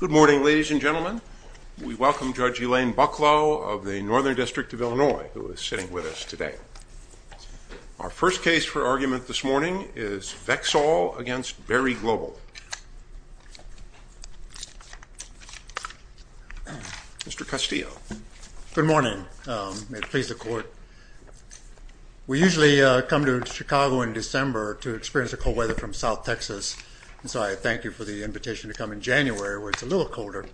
Good morning ladies and gentlemen. We welcome Judge Elaine Bucklow of the Northern District of Illinois who is sitting with us today. Our first case for argument this morning is Vexol v. Berry Global. Mr. Castillo. Good morning. May it please the court. We usually come to Chicago in December to experience the invitation to come in January where it's a little colder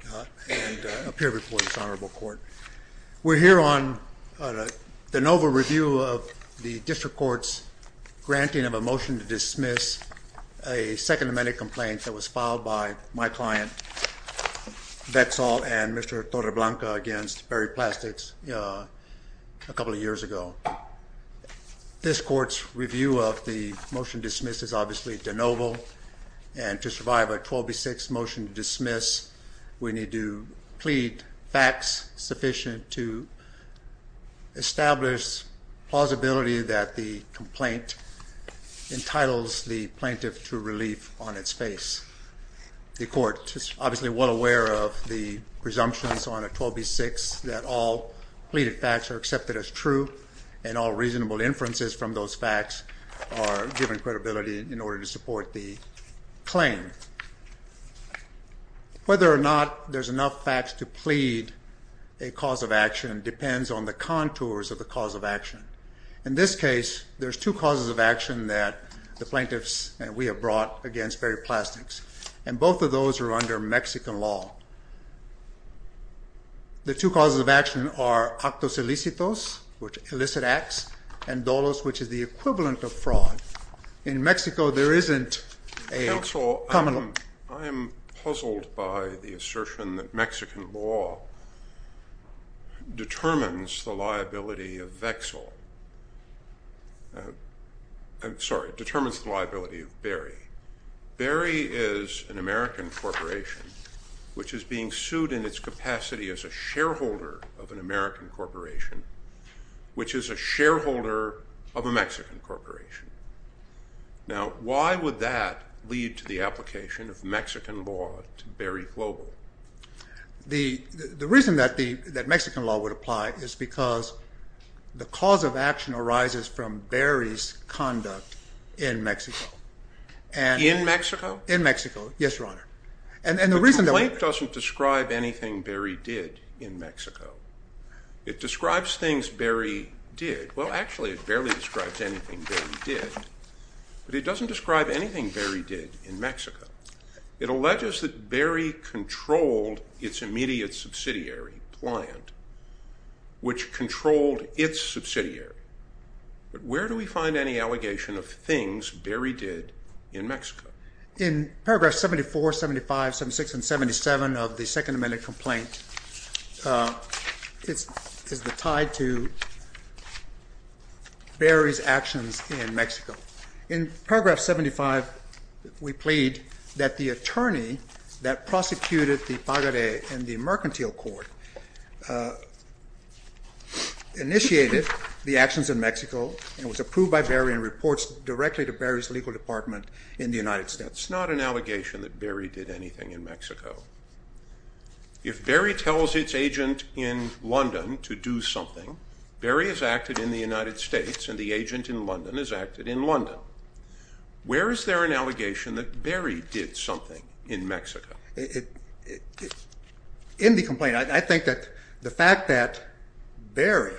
and appear before this honorable court. We're here on the de novo review of the district court's granting of a motion to dismiss a second amendment complaint that was filed by my client Vexol and Mr. Torreblanca against Berry Plastics a couple of years ago. This court's review of the motion dismiss is obviously de novo and to survive a 12 v. 6 motion to dismiss we need to plead facts sufficient to establish plausibility that the complaint entitles the plaintiff to relief on its face. The court is obviously well aware of the presumptions on a 12 v. 6 that all pleaded facts are accepted as true and all reasonable inferences from those facts are given credibility in order to support the claim. Whether or not there's enough facts to plead a cause of action depends on the contours of the cause of action. In this case there's two causes of action that the plaintiffs and we have brought against Berry Plastics and both of those are under Mexican law. The two causes of action are actos elicitos which elicit acts and dolos which is the equivalent of fraud. In Mexico there isn't a common law. I am puzzled by the assertion that Mexican law determines the liability of Vexol. I'm sorry it determines the liability of Berry. Berry is an American corporation which is being sued in its capacity as a shareholder of an American corporation which is a shareholder of a Mexican corporation. Now why would that lead to the application of Mexican law to Berry Global? The reason that Mexican law would apply is because the cause of action arises from Berry's conduct in Mexico. In Mexico? In Mexico, yes your honor. The complaint doesn't describe anything Berry did in Mexico. It barely describes anything Berry did, but it doesn't describe anything Berry did in Mexico. It alleges that Berry controlled its immediate subsidiary, Pliant, which controlled its subsidiary, but where do we find any allegation of things Berry did in Mexico? In paragraph 74, 75, 76, and 77 of the Second Amendment complaint it's tied to Berry's actions in Mexico. In paragraph 75 we plead that the attorney that prosecuted the Pagade and the mercantile court initiated the actions in Mexico and was approved by Berry and reports directly to Berry's legal department in the United States. It's not an allegation that Berry did anything in Mexico. If Berry tells its agent in London to do something, Berry has acted in the United States and the agent in London has acted in London. Where is there an allegation that Berry did something in Mexico? In the complaint I think that the fact that Berry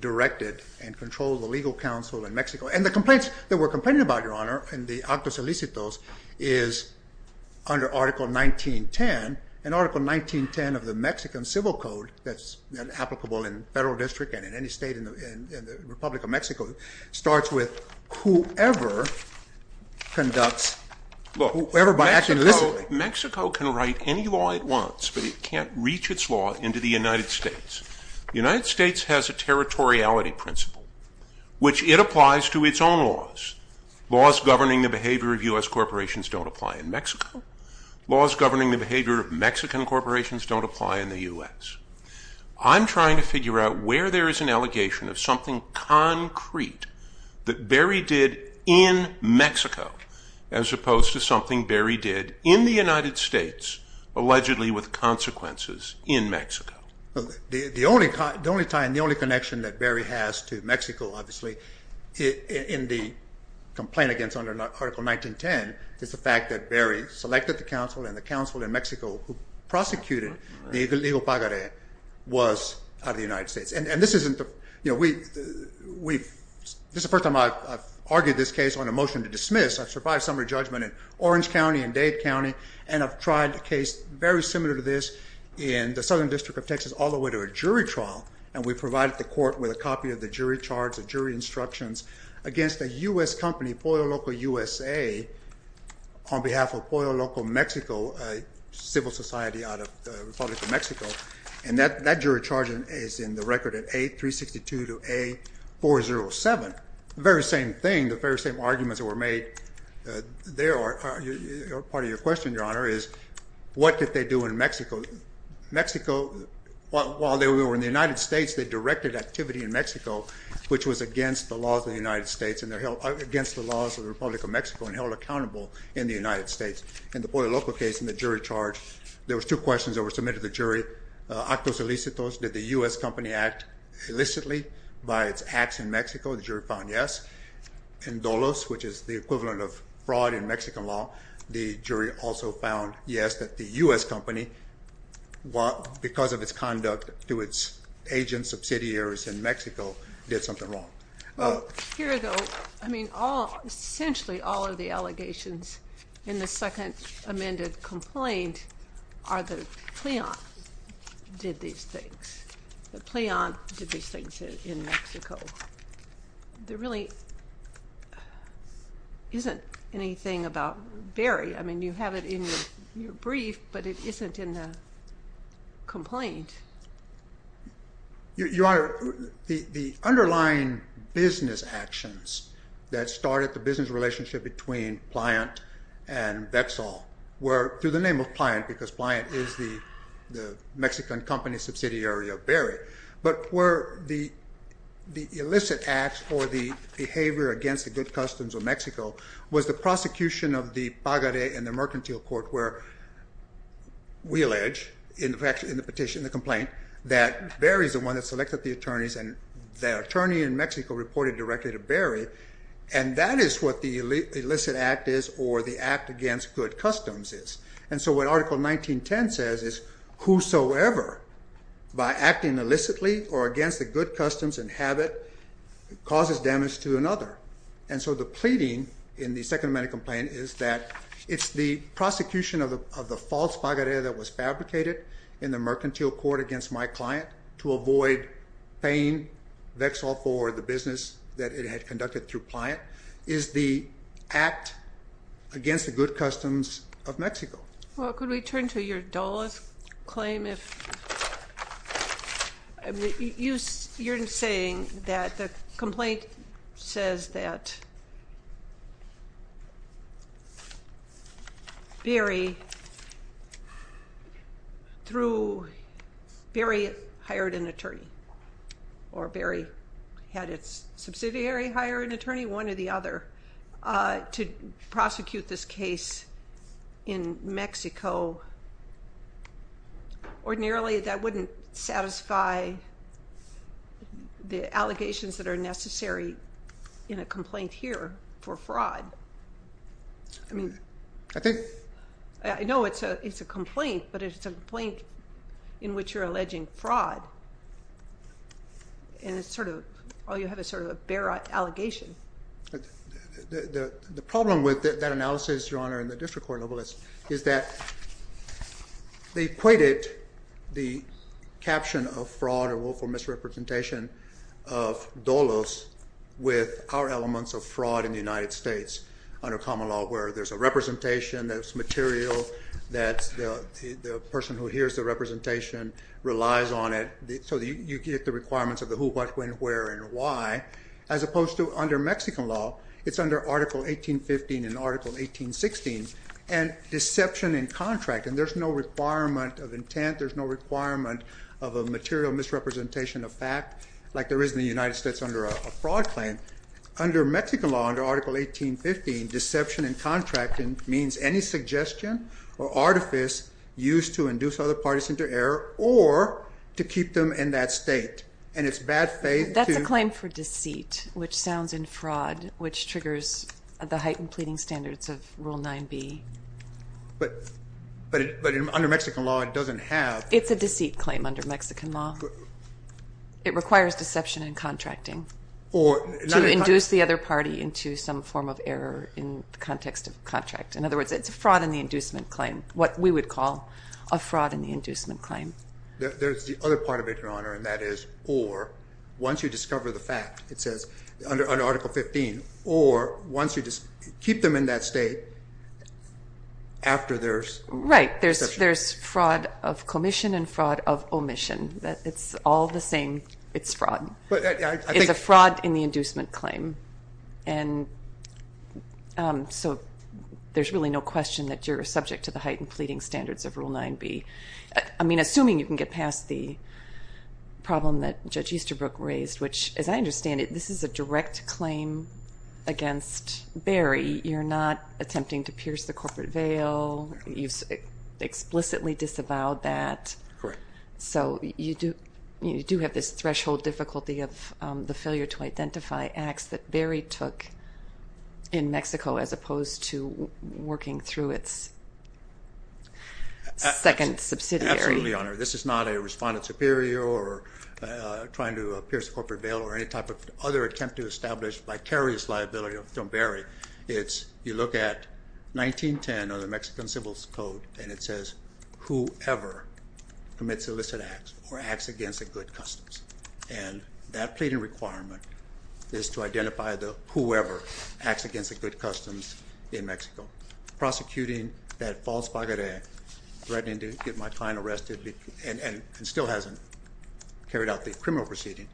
directed and controlled the legal counsel in Mexico, and the complaints that we're complaining about your honor in the article 1910, and article 1910 of the Mexican Civil Code that's applicable in federal district and in any state in the Republic of Mexico, starts with whoever conducts, whoever by acting illicitly. Look, Mexico can write any law it wants, but it can't reach its law into the United States. The United States has a territoriality principle which it applies to its own laws. Laws governing the behavior of U.S. Laws governing the behavior of Mexican corporations don't apply in the U.S. I'm trying to figure out where there is an allegation of something concrete that Berry did in Mexico as opposed to something Berry did in the United States allegedly with consequences in Mexico. The only tie and the only connection that Berry has to Mexico obviously in the complaint against under article 1910 is the fact that Berry selected the counsel and the counsel in Mexico who prosecuted the illegal pagaret was out of the United States. And this isn't, you know, this is the first time I've argued this case on a motion to dismiss. I've survived summary judgment in Orange County and Dade County and I've tried a case very similar to this in the Southern District of Texas all the way to a jury trial and we provided the court with a copy of the U.S.A. on behalf of Pollo Loco Mexico, a civil society out of the Republic of Mexico and that jury charge is in the record at A362 to A407. The very same thing, the very same arguments that were made there are part of your question your honor is what did they do in Mexico? Mexico, while they were in the United States they directed activity in Mexico which was against the laws of the United States and held accountable in the United States. In the Pollo Loco case in the jury charge there was two questions that were submitted to the jury. Actos illicitos, did the U.S. company act illicitly by its acts in Mexico? The jury found yes. Indolos, which is the equivalent of fraud in Mexican law, the jury also found yes that the U.S. company because of its conduct to its agents, subsidiaries in Mexico did something wrong. Here though, I mean all essentially all of the allegations in the second amended complaint are the pliant did these things. The pliant did these things in Mexico. There really isn't anything about Barry, I mean you have it in your brief but it isn't in the complaint. Your honor, the underlying business actions that started the business relationship between Pliant and Vexal were through the name of Pliant because Pliant is the the Mexican company subsidiary of Barry but were the the illicit acts for the behavior against the good customs of wheel edge in fact in the petition the complaint that Barry's the one that selected the attorneys and the attorney in Mexico reported directly to Barry and that is what the illicit act is or the act against good customs is and so what article 1910 says is whosoever by acting illicitly or against the good customs and habit causes damage to another and so the pleading in the second amended complaint is that it's the prosecution of the of the false pagoda that was fabricated in the mercantile court against my client to avoid paying Vexal for the business that it had conducted through Pliant is the act against the good customs of Mexico. Well could we turn to your Dola's claim if you're saying that the complaint says that Barry through Barry hired an attorney or Barry had its subsidiary hire an attorney one or the other to prosecute this case in Mexico ordinarily that wouldn't satisfy the allegations that are necessary in a complaint here for fraud I mean I think I know it's a it's a complaint but it's a complaint in which you're alleging fraud and it's sort of all you have a sort of a bear allegation. The problem with that analysis your honor in the district is that they equated the caption of fraud or woeful misrepresentation of Dola's with our elements of fraud in the United States under common law where there's a representation that's material that the person who hears the representation relies on it so you get the requirements of the who what when where and why as opposed to under Mexican law it's under article 1815 in deception in contract and there's no requirement of intent there's no requirement of a material misrepresentation of fact like there is in the United States under a fraud claim under Mexican law under article 1815 deception and contracting means any suggestion or artifice used to induce other parties into error or to keep them in that state and it's bad faith. That's a claim for deceit which sounds in fraud which triggers the heightened pleading standards of rule 9b. But under Mexican law it doesn't have. It's a deceit claim under Mexican law. It requires deception and contracting or induce the other party into some form of error in the context of contract. In other words it's a fraud in the inducement claim what we would call a fraud in the inducement claim. There's the other part of it your honor and that is or once you in that state after there's. Right there's there's fraud of commission and fraud of omission that it's all the same it's fraud. It's a fraud in the inducement claim and so there's really no question that you're subject to the heightened pleading standards of rule 9b. I mean assuming you can get past the problem that Judge Easterbrook raised which as I understand it this is a attempting to pierce the corporate veil you explicitly disavowed that. Correct. So you do you do have this threshold difficulty of the failure to identify acts that Barry took in Mexico as opposed to working through its second subsidiary. Absolutely your honor. This is not a respondent superior or trying to pierce the corporate veil or any type of other attempt to establish vicarious liability of Don Barry. It's you look at 1910 or the Mexican Civil Code and it says whoever commits illicit acts or acts against the good customs and that pleading requirement is to identify the whoever acts against the good customs in Mexico. Prosecuting that false baguette threatening to get my client arrested and still hasn't carried out the criminal proceeding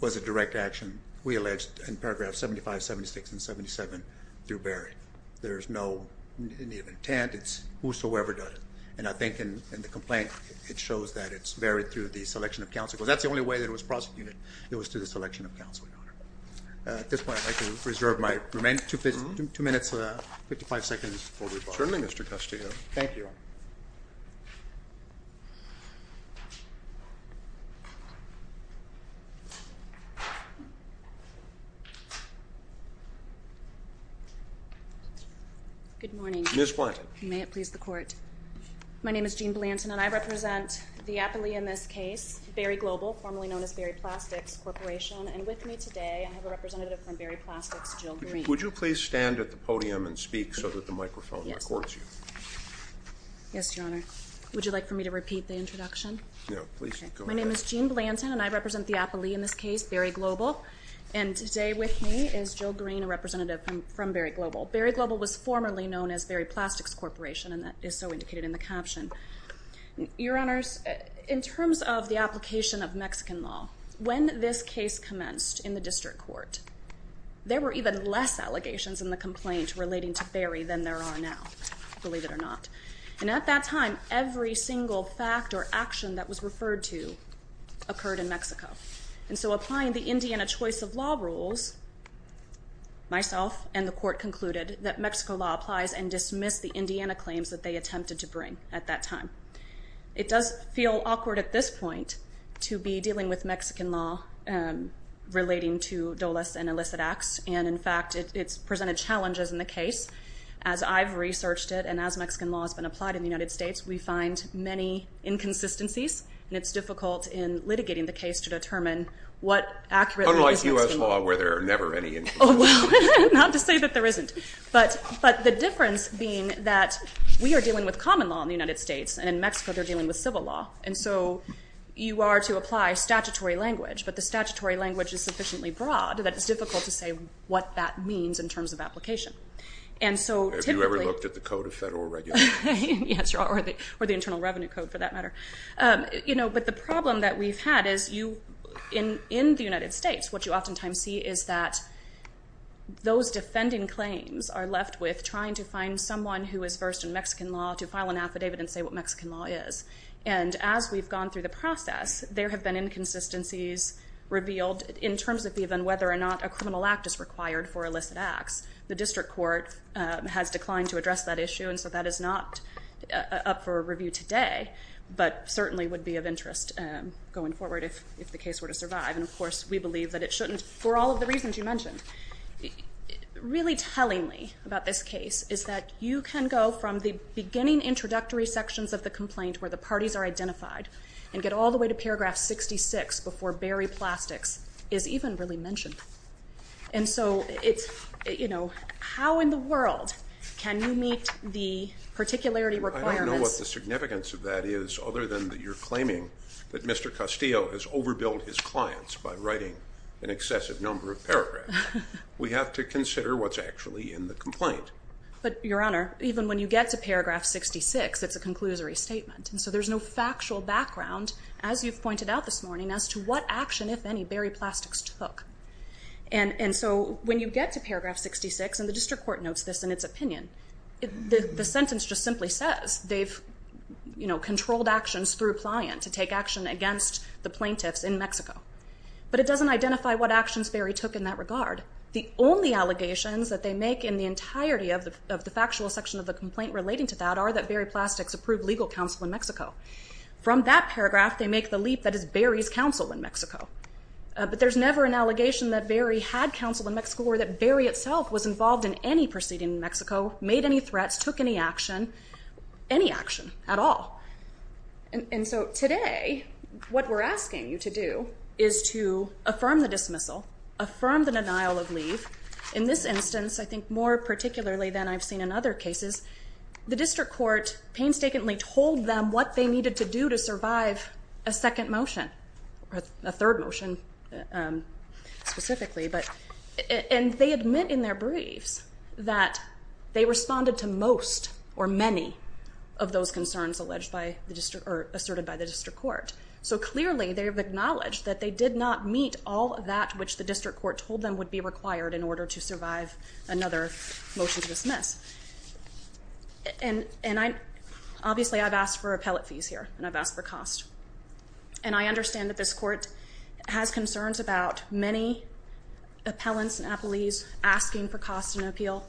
was a direct action we alleged in paragraph 75, 76, and 77 through Barry. There's no need of intent it's whosoever does it and I think in the complaint it shows that it's varied through the selection of counsel because that's the only way that it was prosecuted it was to the selection of counsel. At this point I'd like to reserve my remaining two minutes, 55 seconds for rebuttal. Certainly Mr. Castillo. Thank you. Good morning. Ms. Blanton. May it please the court. My name is Jean Blanton and I represent the appellee in this case Barry Global formerly known as Barry Plastics Corporation and with me today I have a representative from Barry Plastics, Jill Green. Would you please stand at the podium and speak so that the microphone records you. Yes your honor. Would you like for me to repeat the introduction? No please. My name is Jean Blanton and I represent the and today with me is Jill Green a representative from Barry Global. Barry Global was formerly known as Barry Plastics Corporation and that is so indicated in the caption. Your honors in terms of the application of Mexican law when this case commenced in the district court there were even less allegations in the complaint relating to Barry than there are now believe it or not and at that time every single fact or action that was referred to occurred in Mexico and so applying the Indiana choice of law rules myself and the court concluded that Mexico law applies and dismissed the Indiana claims that they attempted to bring at that time. It does feel awkward at this point to be dealing with Mexican law relating to dolus and illicit acts and in fact it's presented challenges in the case as I've researched it and as Mexican law has been applied in the United States we find many inconsistencies and it's Unlike US law where there are never any inconsistencies. Not to say that there isn't but the difference being that we are dealing with common law in the United States and in Mexico they're dealing with civil law and so you are to apply statutory language but the statutory language is sufficiently broad that it's difficult to say what that means in terms of application. Have you ever looked at the Code of Federal Regulations? Yes or the Internal Revenue Code for that matter. You know but the problem that we've had is you in in the United States what you oftentimes see is that those defending claims are left with trying to find someone who is versed in Mexican law to file an affidavit and say what Mexican law is and as we've gone through the process there have been inconsistencies revealed in terms of even whether or not a criminal act is required for illicit acts. The district court has declined to address that issue and so that is not up for review today but certainly would be of interest going forward if if the case were to survive and of course we believe that it shouldn't for all of the reasons you mentioned. Really tellingly about this case is that you can go from the beginning introductory sections of the complaint where the parties are identified and get all the way to paragraph 66 before Barry Plastics is even really mentioned and so it's you know how in the world can you meet the particularity requirements. I don't know what the claimant that Mr. Castillo has overbilled his clients by writing an excessive number of paragraphs. We have to consider what's actually in the complaint. But your honor even when you get to paragraph 66 it's a conclusory statement and so there's no factual background as you've pointed out this morning as to what action if any Barry Plastics took and and so when you get to paragraph 66 and the district court notes this in its opinion the sentence just simply says they've you know controlled actions through client to take action against the plaintiffs in Mexico. But it doesn't identify what actions Barry took in that regard. The only allegations that they make in the entirety of the of the factual section of the complaint relating to that are that Barry Plastics approved legal counsel in Mexico. From that paragraph they make the leap that is Barry's counsel in Mexico. But there's never an allegation that Barry had counsel in Mexico or that Barry itself was involved in any proceeding in Mexico, made any threats, took any action, any action at all. And so today what we're asking you to do is to affirm the dismissal, affirm the denial of leave. In this instance I think more particularly than I've seen in other cases the district court painstakingly told them what they needed to do to survive a second motion or a third motion specifically but and they admit in their briefs that they responded to most or many of those concerns alleged by the district or asserted by the district court. So clearly they have acknowledged that they did not meet all of that which the district court told them would be required in order to survive another motion to dismiss. And and I obviously I've asked for appellate fees here and I've asked for cost. And I understand that this court has concerns about many appellants and appellees asking for cost and appeal,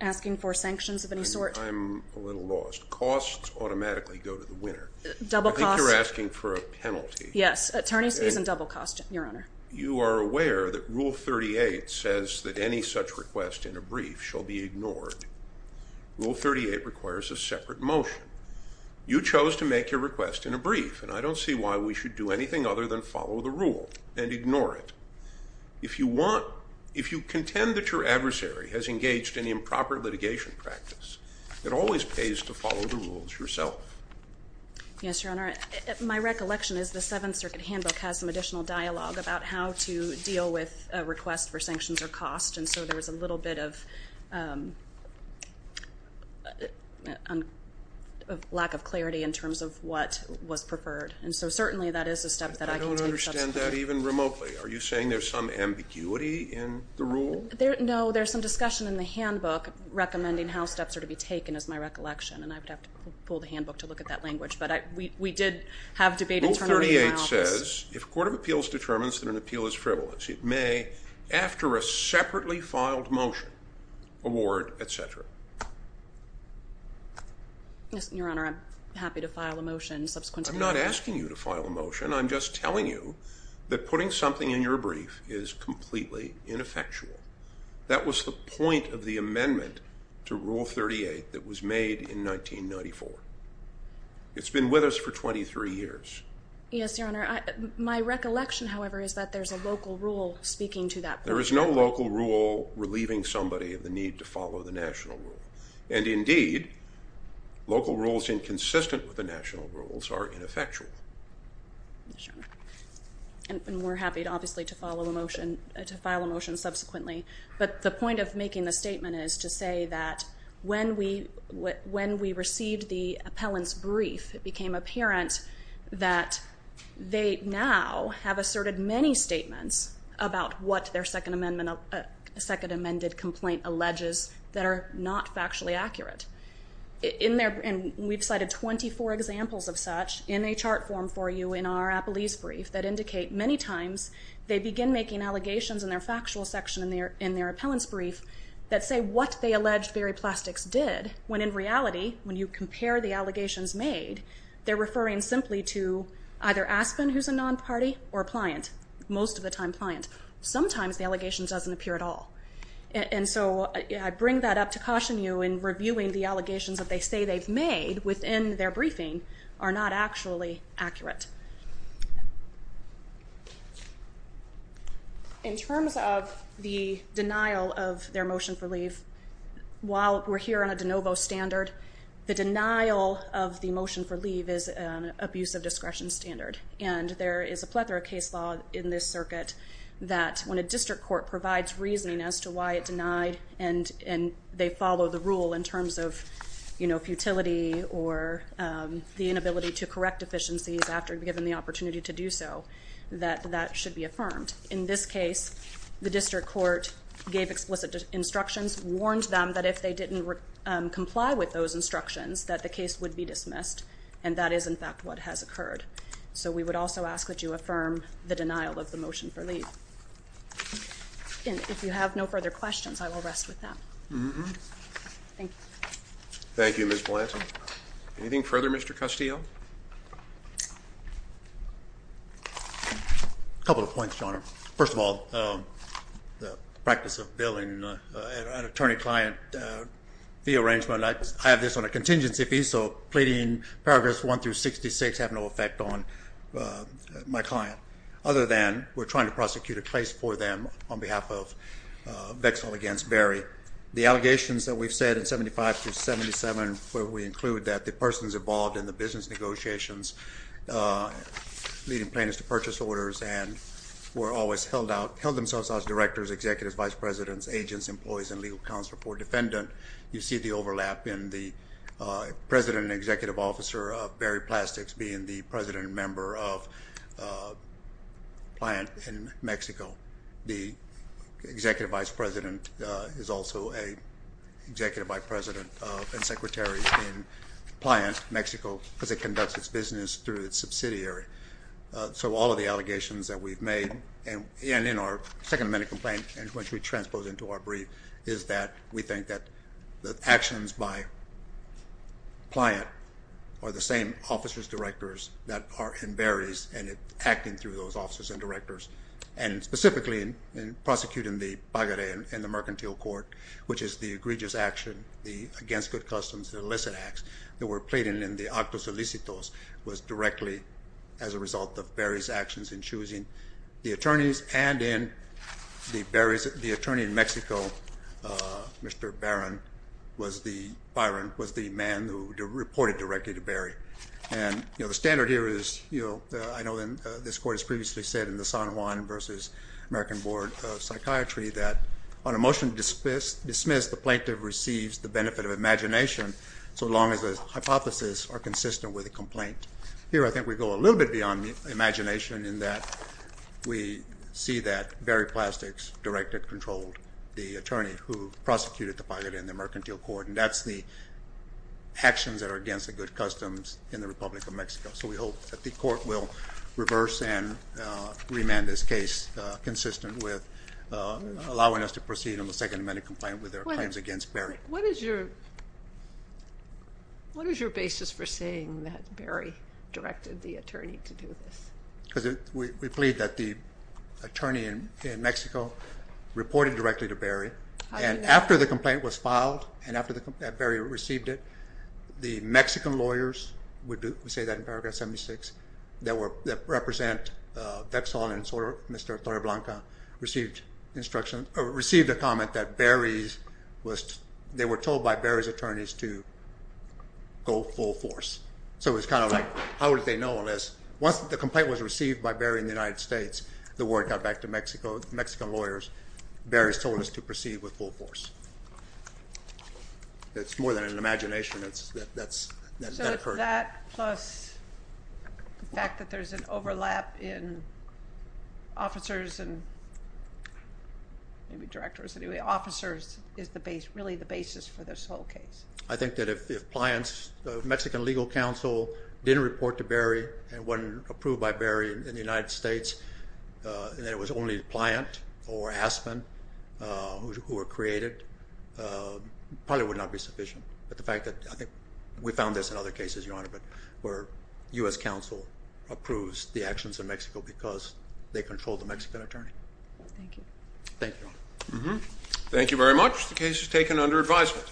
asking for sanctions of any sort. I'm a little lost. Costs automatically go to the winner. Double costs. I think you're asking for a penalty. Yes, attorneys fees and double cost your honor. You are aware that rule 38 says that any such request in a brief shall be ignored. Rule 38 requires a separate motion. You chose to make your request in a brief and I don't see why we should do anything other than follow the rule and if you want, if you contend that your adversary has engaged in improper litigation practice, it always pays to follow the rules yourself. Yes, your honor. My recollection is the Seventh Circuit Handbook has some additional dialogue about how to deal with request for sanctions or cost. And so there's a little bit of a lack of clarity in terms of what was preferred. And so certainly that is a step that I don't understand that even remotely. Are you saying there's some ambiguity in the rule? No, there's some discussion in the handbook recommending how steps are to be taken as my recollection and I would have to pull the handbook to look at that language. But we did have debate internally. Rule 38 says if a court of appeals determines that an appeal is frivolous, it may, after a separately filed motion, award, et cetera. Yes, your honor. I'm happy to file a motion subsequently. I'm not asking you to file a motion. I'm just telling you that putting something in your brief is completely ineffectual. That was the point of the amendment to rule 38 that was made in 1994. It's been with us for 23 years. Yes, your honor. My recollection, however, is that there's a local rule speaking to that. There is no local rule relieving somebody of the need to follow the national rule. And indeed, local rules inconsistent with the national rules are ineffectual. And we're happy, obviously, to follow the motion, to file a motion subsequently. But the point of making the statement is to say that when we received the appellant's brief, it became apparent that they now have asserted many statements about what their second amendment, second amended complaint, alleges that are not factually accurate. And we've cited 24 examples of such in a chart form for you in our appellee's brief that indicate many times they begin making allegations in their factual section in their appellant's brief that say what they alleged Barry Plastics did, when in reality, when you compare the allegations made, they're referring simply to either Aspen, who's a non-party, or a client, most of the time at all. And so I bring that up to caution you in reviewing the allegations that they say they've made within their briefing are not actually accurate. In terms of the denial of their motion for leave, while we're here on a de novo standard, the denial of the motion for leave is an abuse of discretion standard. And there is a plethora of case law in this circuit that when a district court provides reasoning as to why it denied and they follow the rule in terms of, you know, futility or the inability to correct deficiencies after given the opportunity to do so, that that should be affirmed. In this case, the district court gave explicit instructions, warned them that if they didn't comply with those instructions, that the case would be dismissed. And that is, in fact, what has occurred. So we would also ask that you affirm the denial of the motion for leave. And if you have no further questions, I will rest with that. Thank you. Thank you, Miss Blanton. Anything further, Mr Castillo? Couple of points, John. First of all, the practice of billing an attorney client the arrangement. I have this on a contingency fee, so pleading paragraphs 1 through 66 have no effect on my client, other than we're trying to prosecute a case for them on behalf of Vexil against Berry. The allegations that we've said in 75 to 77, where we include that the person's involved in the business negotiations, leading plaintiffs to purchase orders and were always held out, held themselves out as directors, executives, vice presidents, agents, employees, and legal counsel for defendant, you see the overlap in the president and executive officer of Berry Plastics being the president and member of Pliant in Mexico. The executive vice president is also a executive vice president and secretary in Pliant, Mexico, because it conducts its business through its subsidiary. So all of the allegations that we've made, and in our second minute complaint, which we transpose into our brief, is that we think that the actions by Pliant are the same officers, directors that are in Berry's and acting through those officers and directors, and specifically in prosecuting the pagare in the mercantile court, which is the egregious action, the against good customs, the illicit acts that were pleading in the actos illicitos was in the Berry's, the attorney in Mexico, Mr. Barron, was the, Byron, was the man who reported directly to Berry. And the standard here is, I know this court has previously said in the San Juan versus American Board of Psychiatry that on a motion to dismiss, the plaintiff receives the benefit of imagination so long as the hypothesis are consistent with the complaint. Here I think we go a little bit beyond the imagination in that we see that Berry Plastics directed, controlled the attorney who prosecuted the pagare in the mercantile court, and that's the actions that are against the good customs in the Republic of Mexico. So we hope that the court will reverse and remand this case consistent with allowing us to proceed on the second minute complaint with their claims against Berry. What is your what is your basis for saying that Berry directed the attorney to do this? Because we plead that the attorney in Mexico reported directly to Berry and after the complaint was filed and after Berry received it, the Mexican lawyers, we say that in paragraph 76, that represent Vexal and Mr. Torreblanca received instruction, received a comment that Berry's was, they were told by Berry's attorneys to go full force. So it's kind of like, how would they know unless, once the complaint was received by Berry in the United States, the word got back to Mexico, Mexican lawyers, Berry's told us to proceed with full force. It's more than an imagination. That's, that's, that occurred. So that plus the fact that there's an overlap in officers and maybe directors, anyway, officers is the base, really the basis for this whole case. I think that if the appliance, the Mexican legal counsel didn't report to Berry and wasn't approved by Berry in the United States, and that it was only the client or Aspen who were created, probably would not be sufficient. But the fact that we found this in other cases, Your Honor, but where U.S. counsel approves the actions in Mexico because they control the Mexican attorney. Thank you. Thank you. Thank you very much. The case is taken under advisement.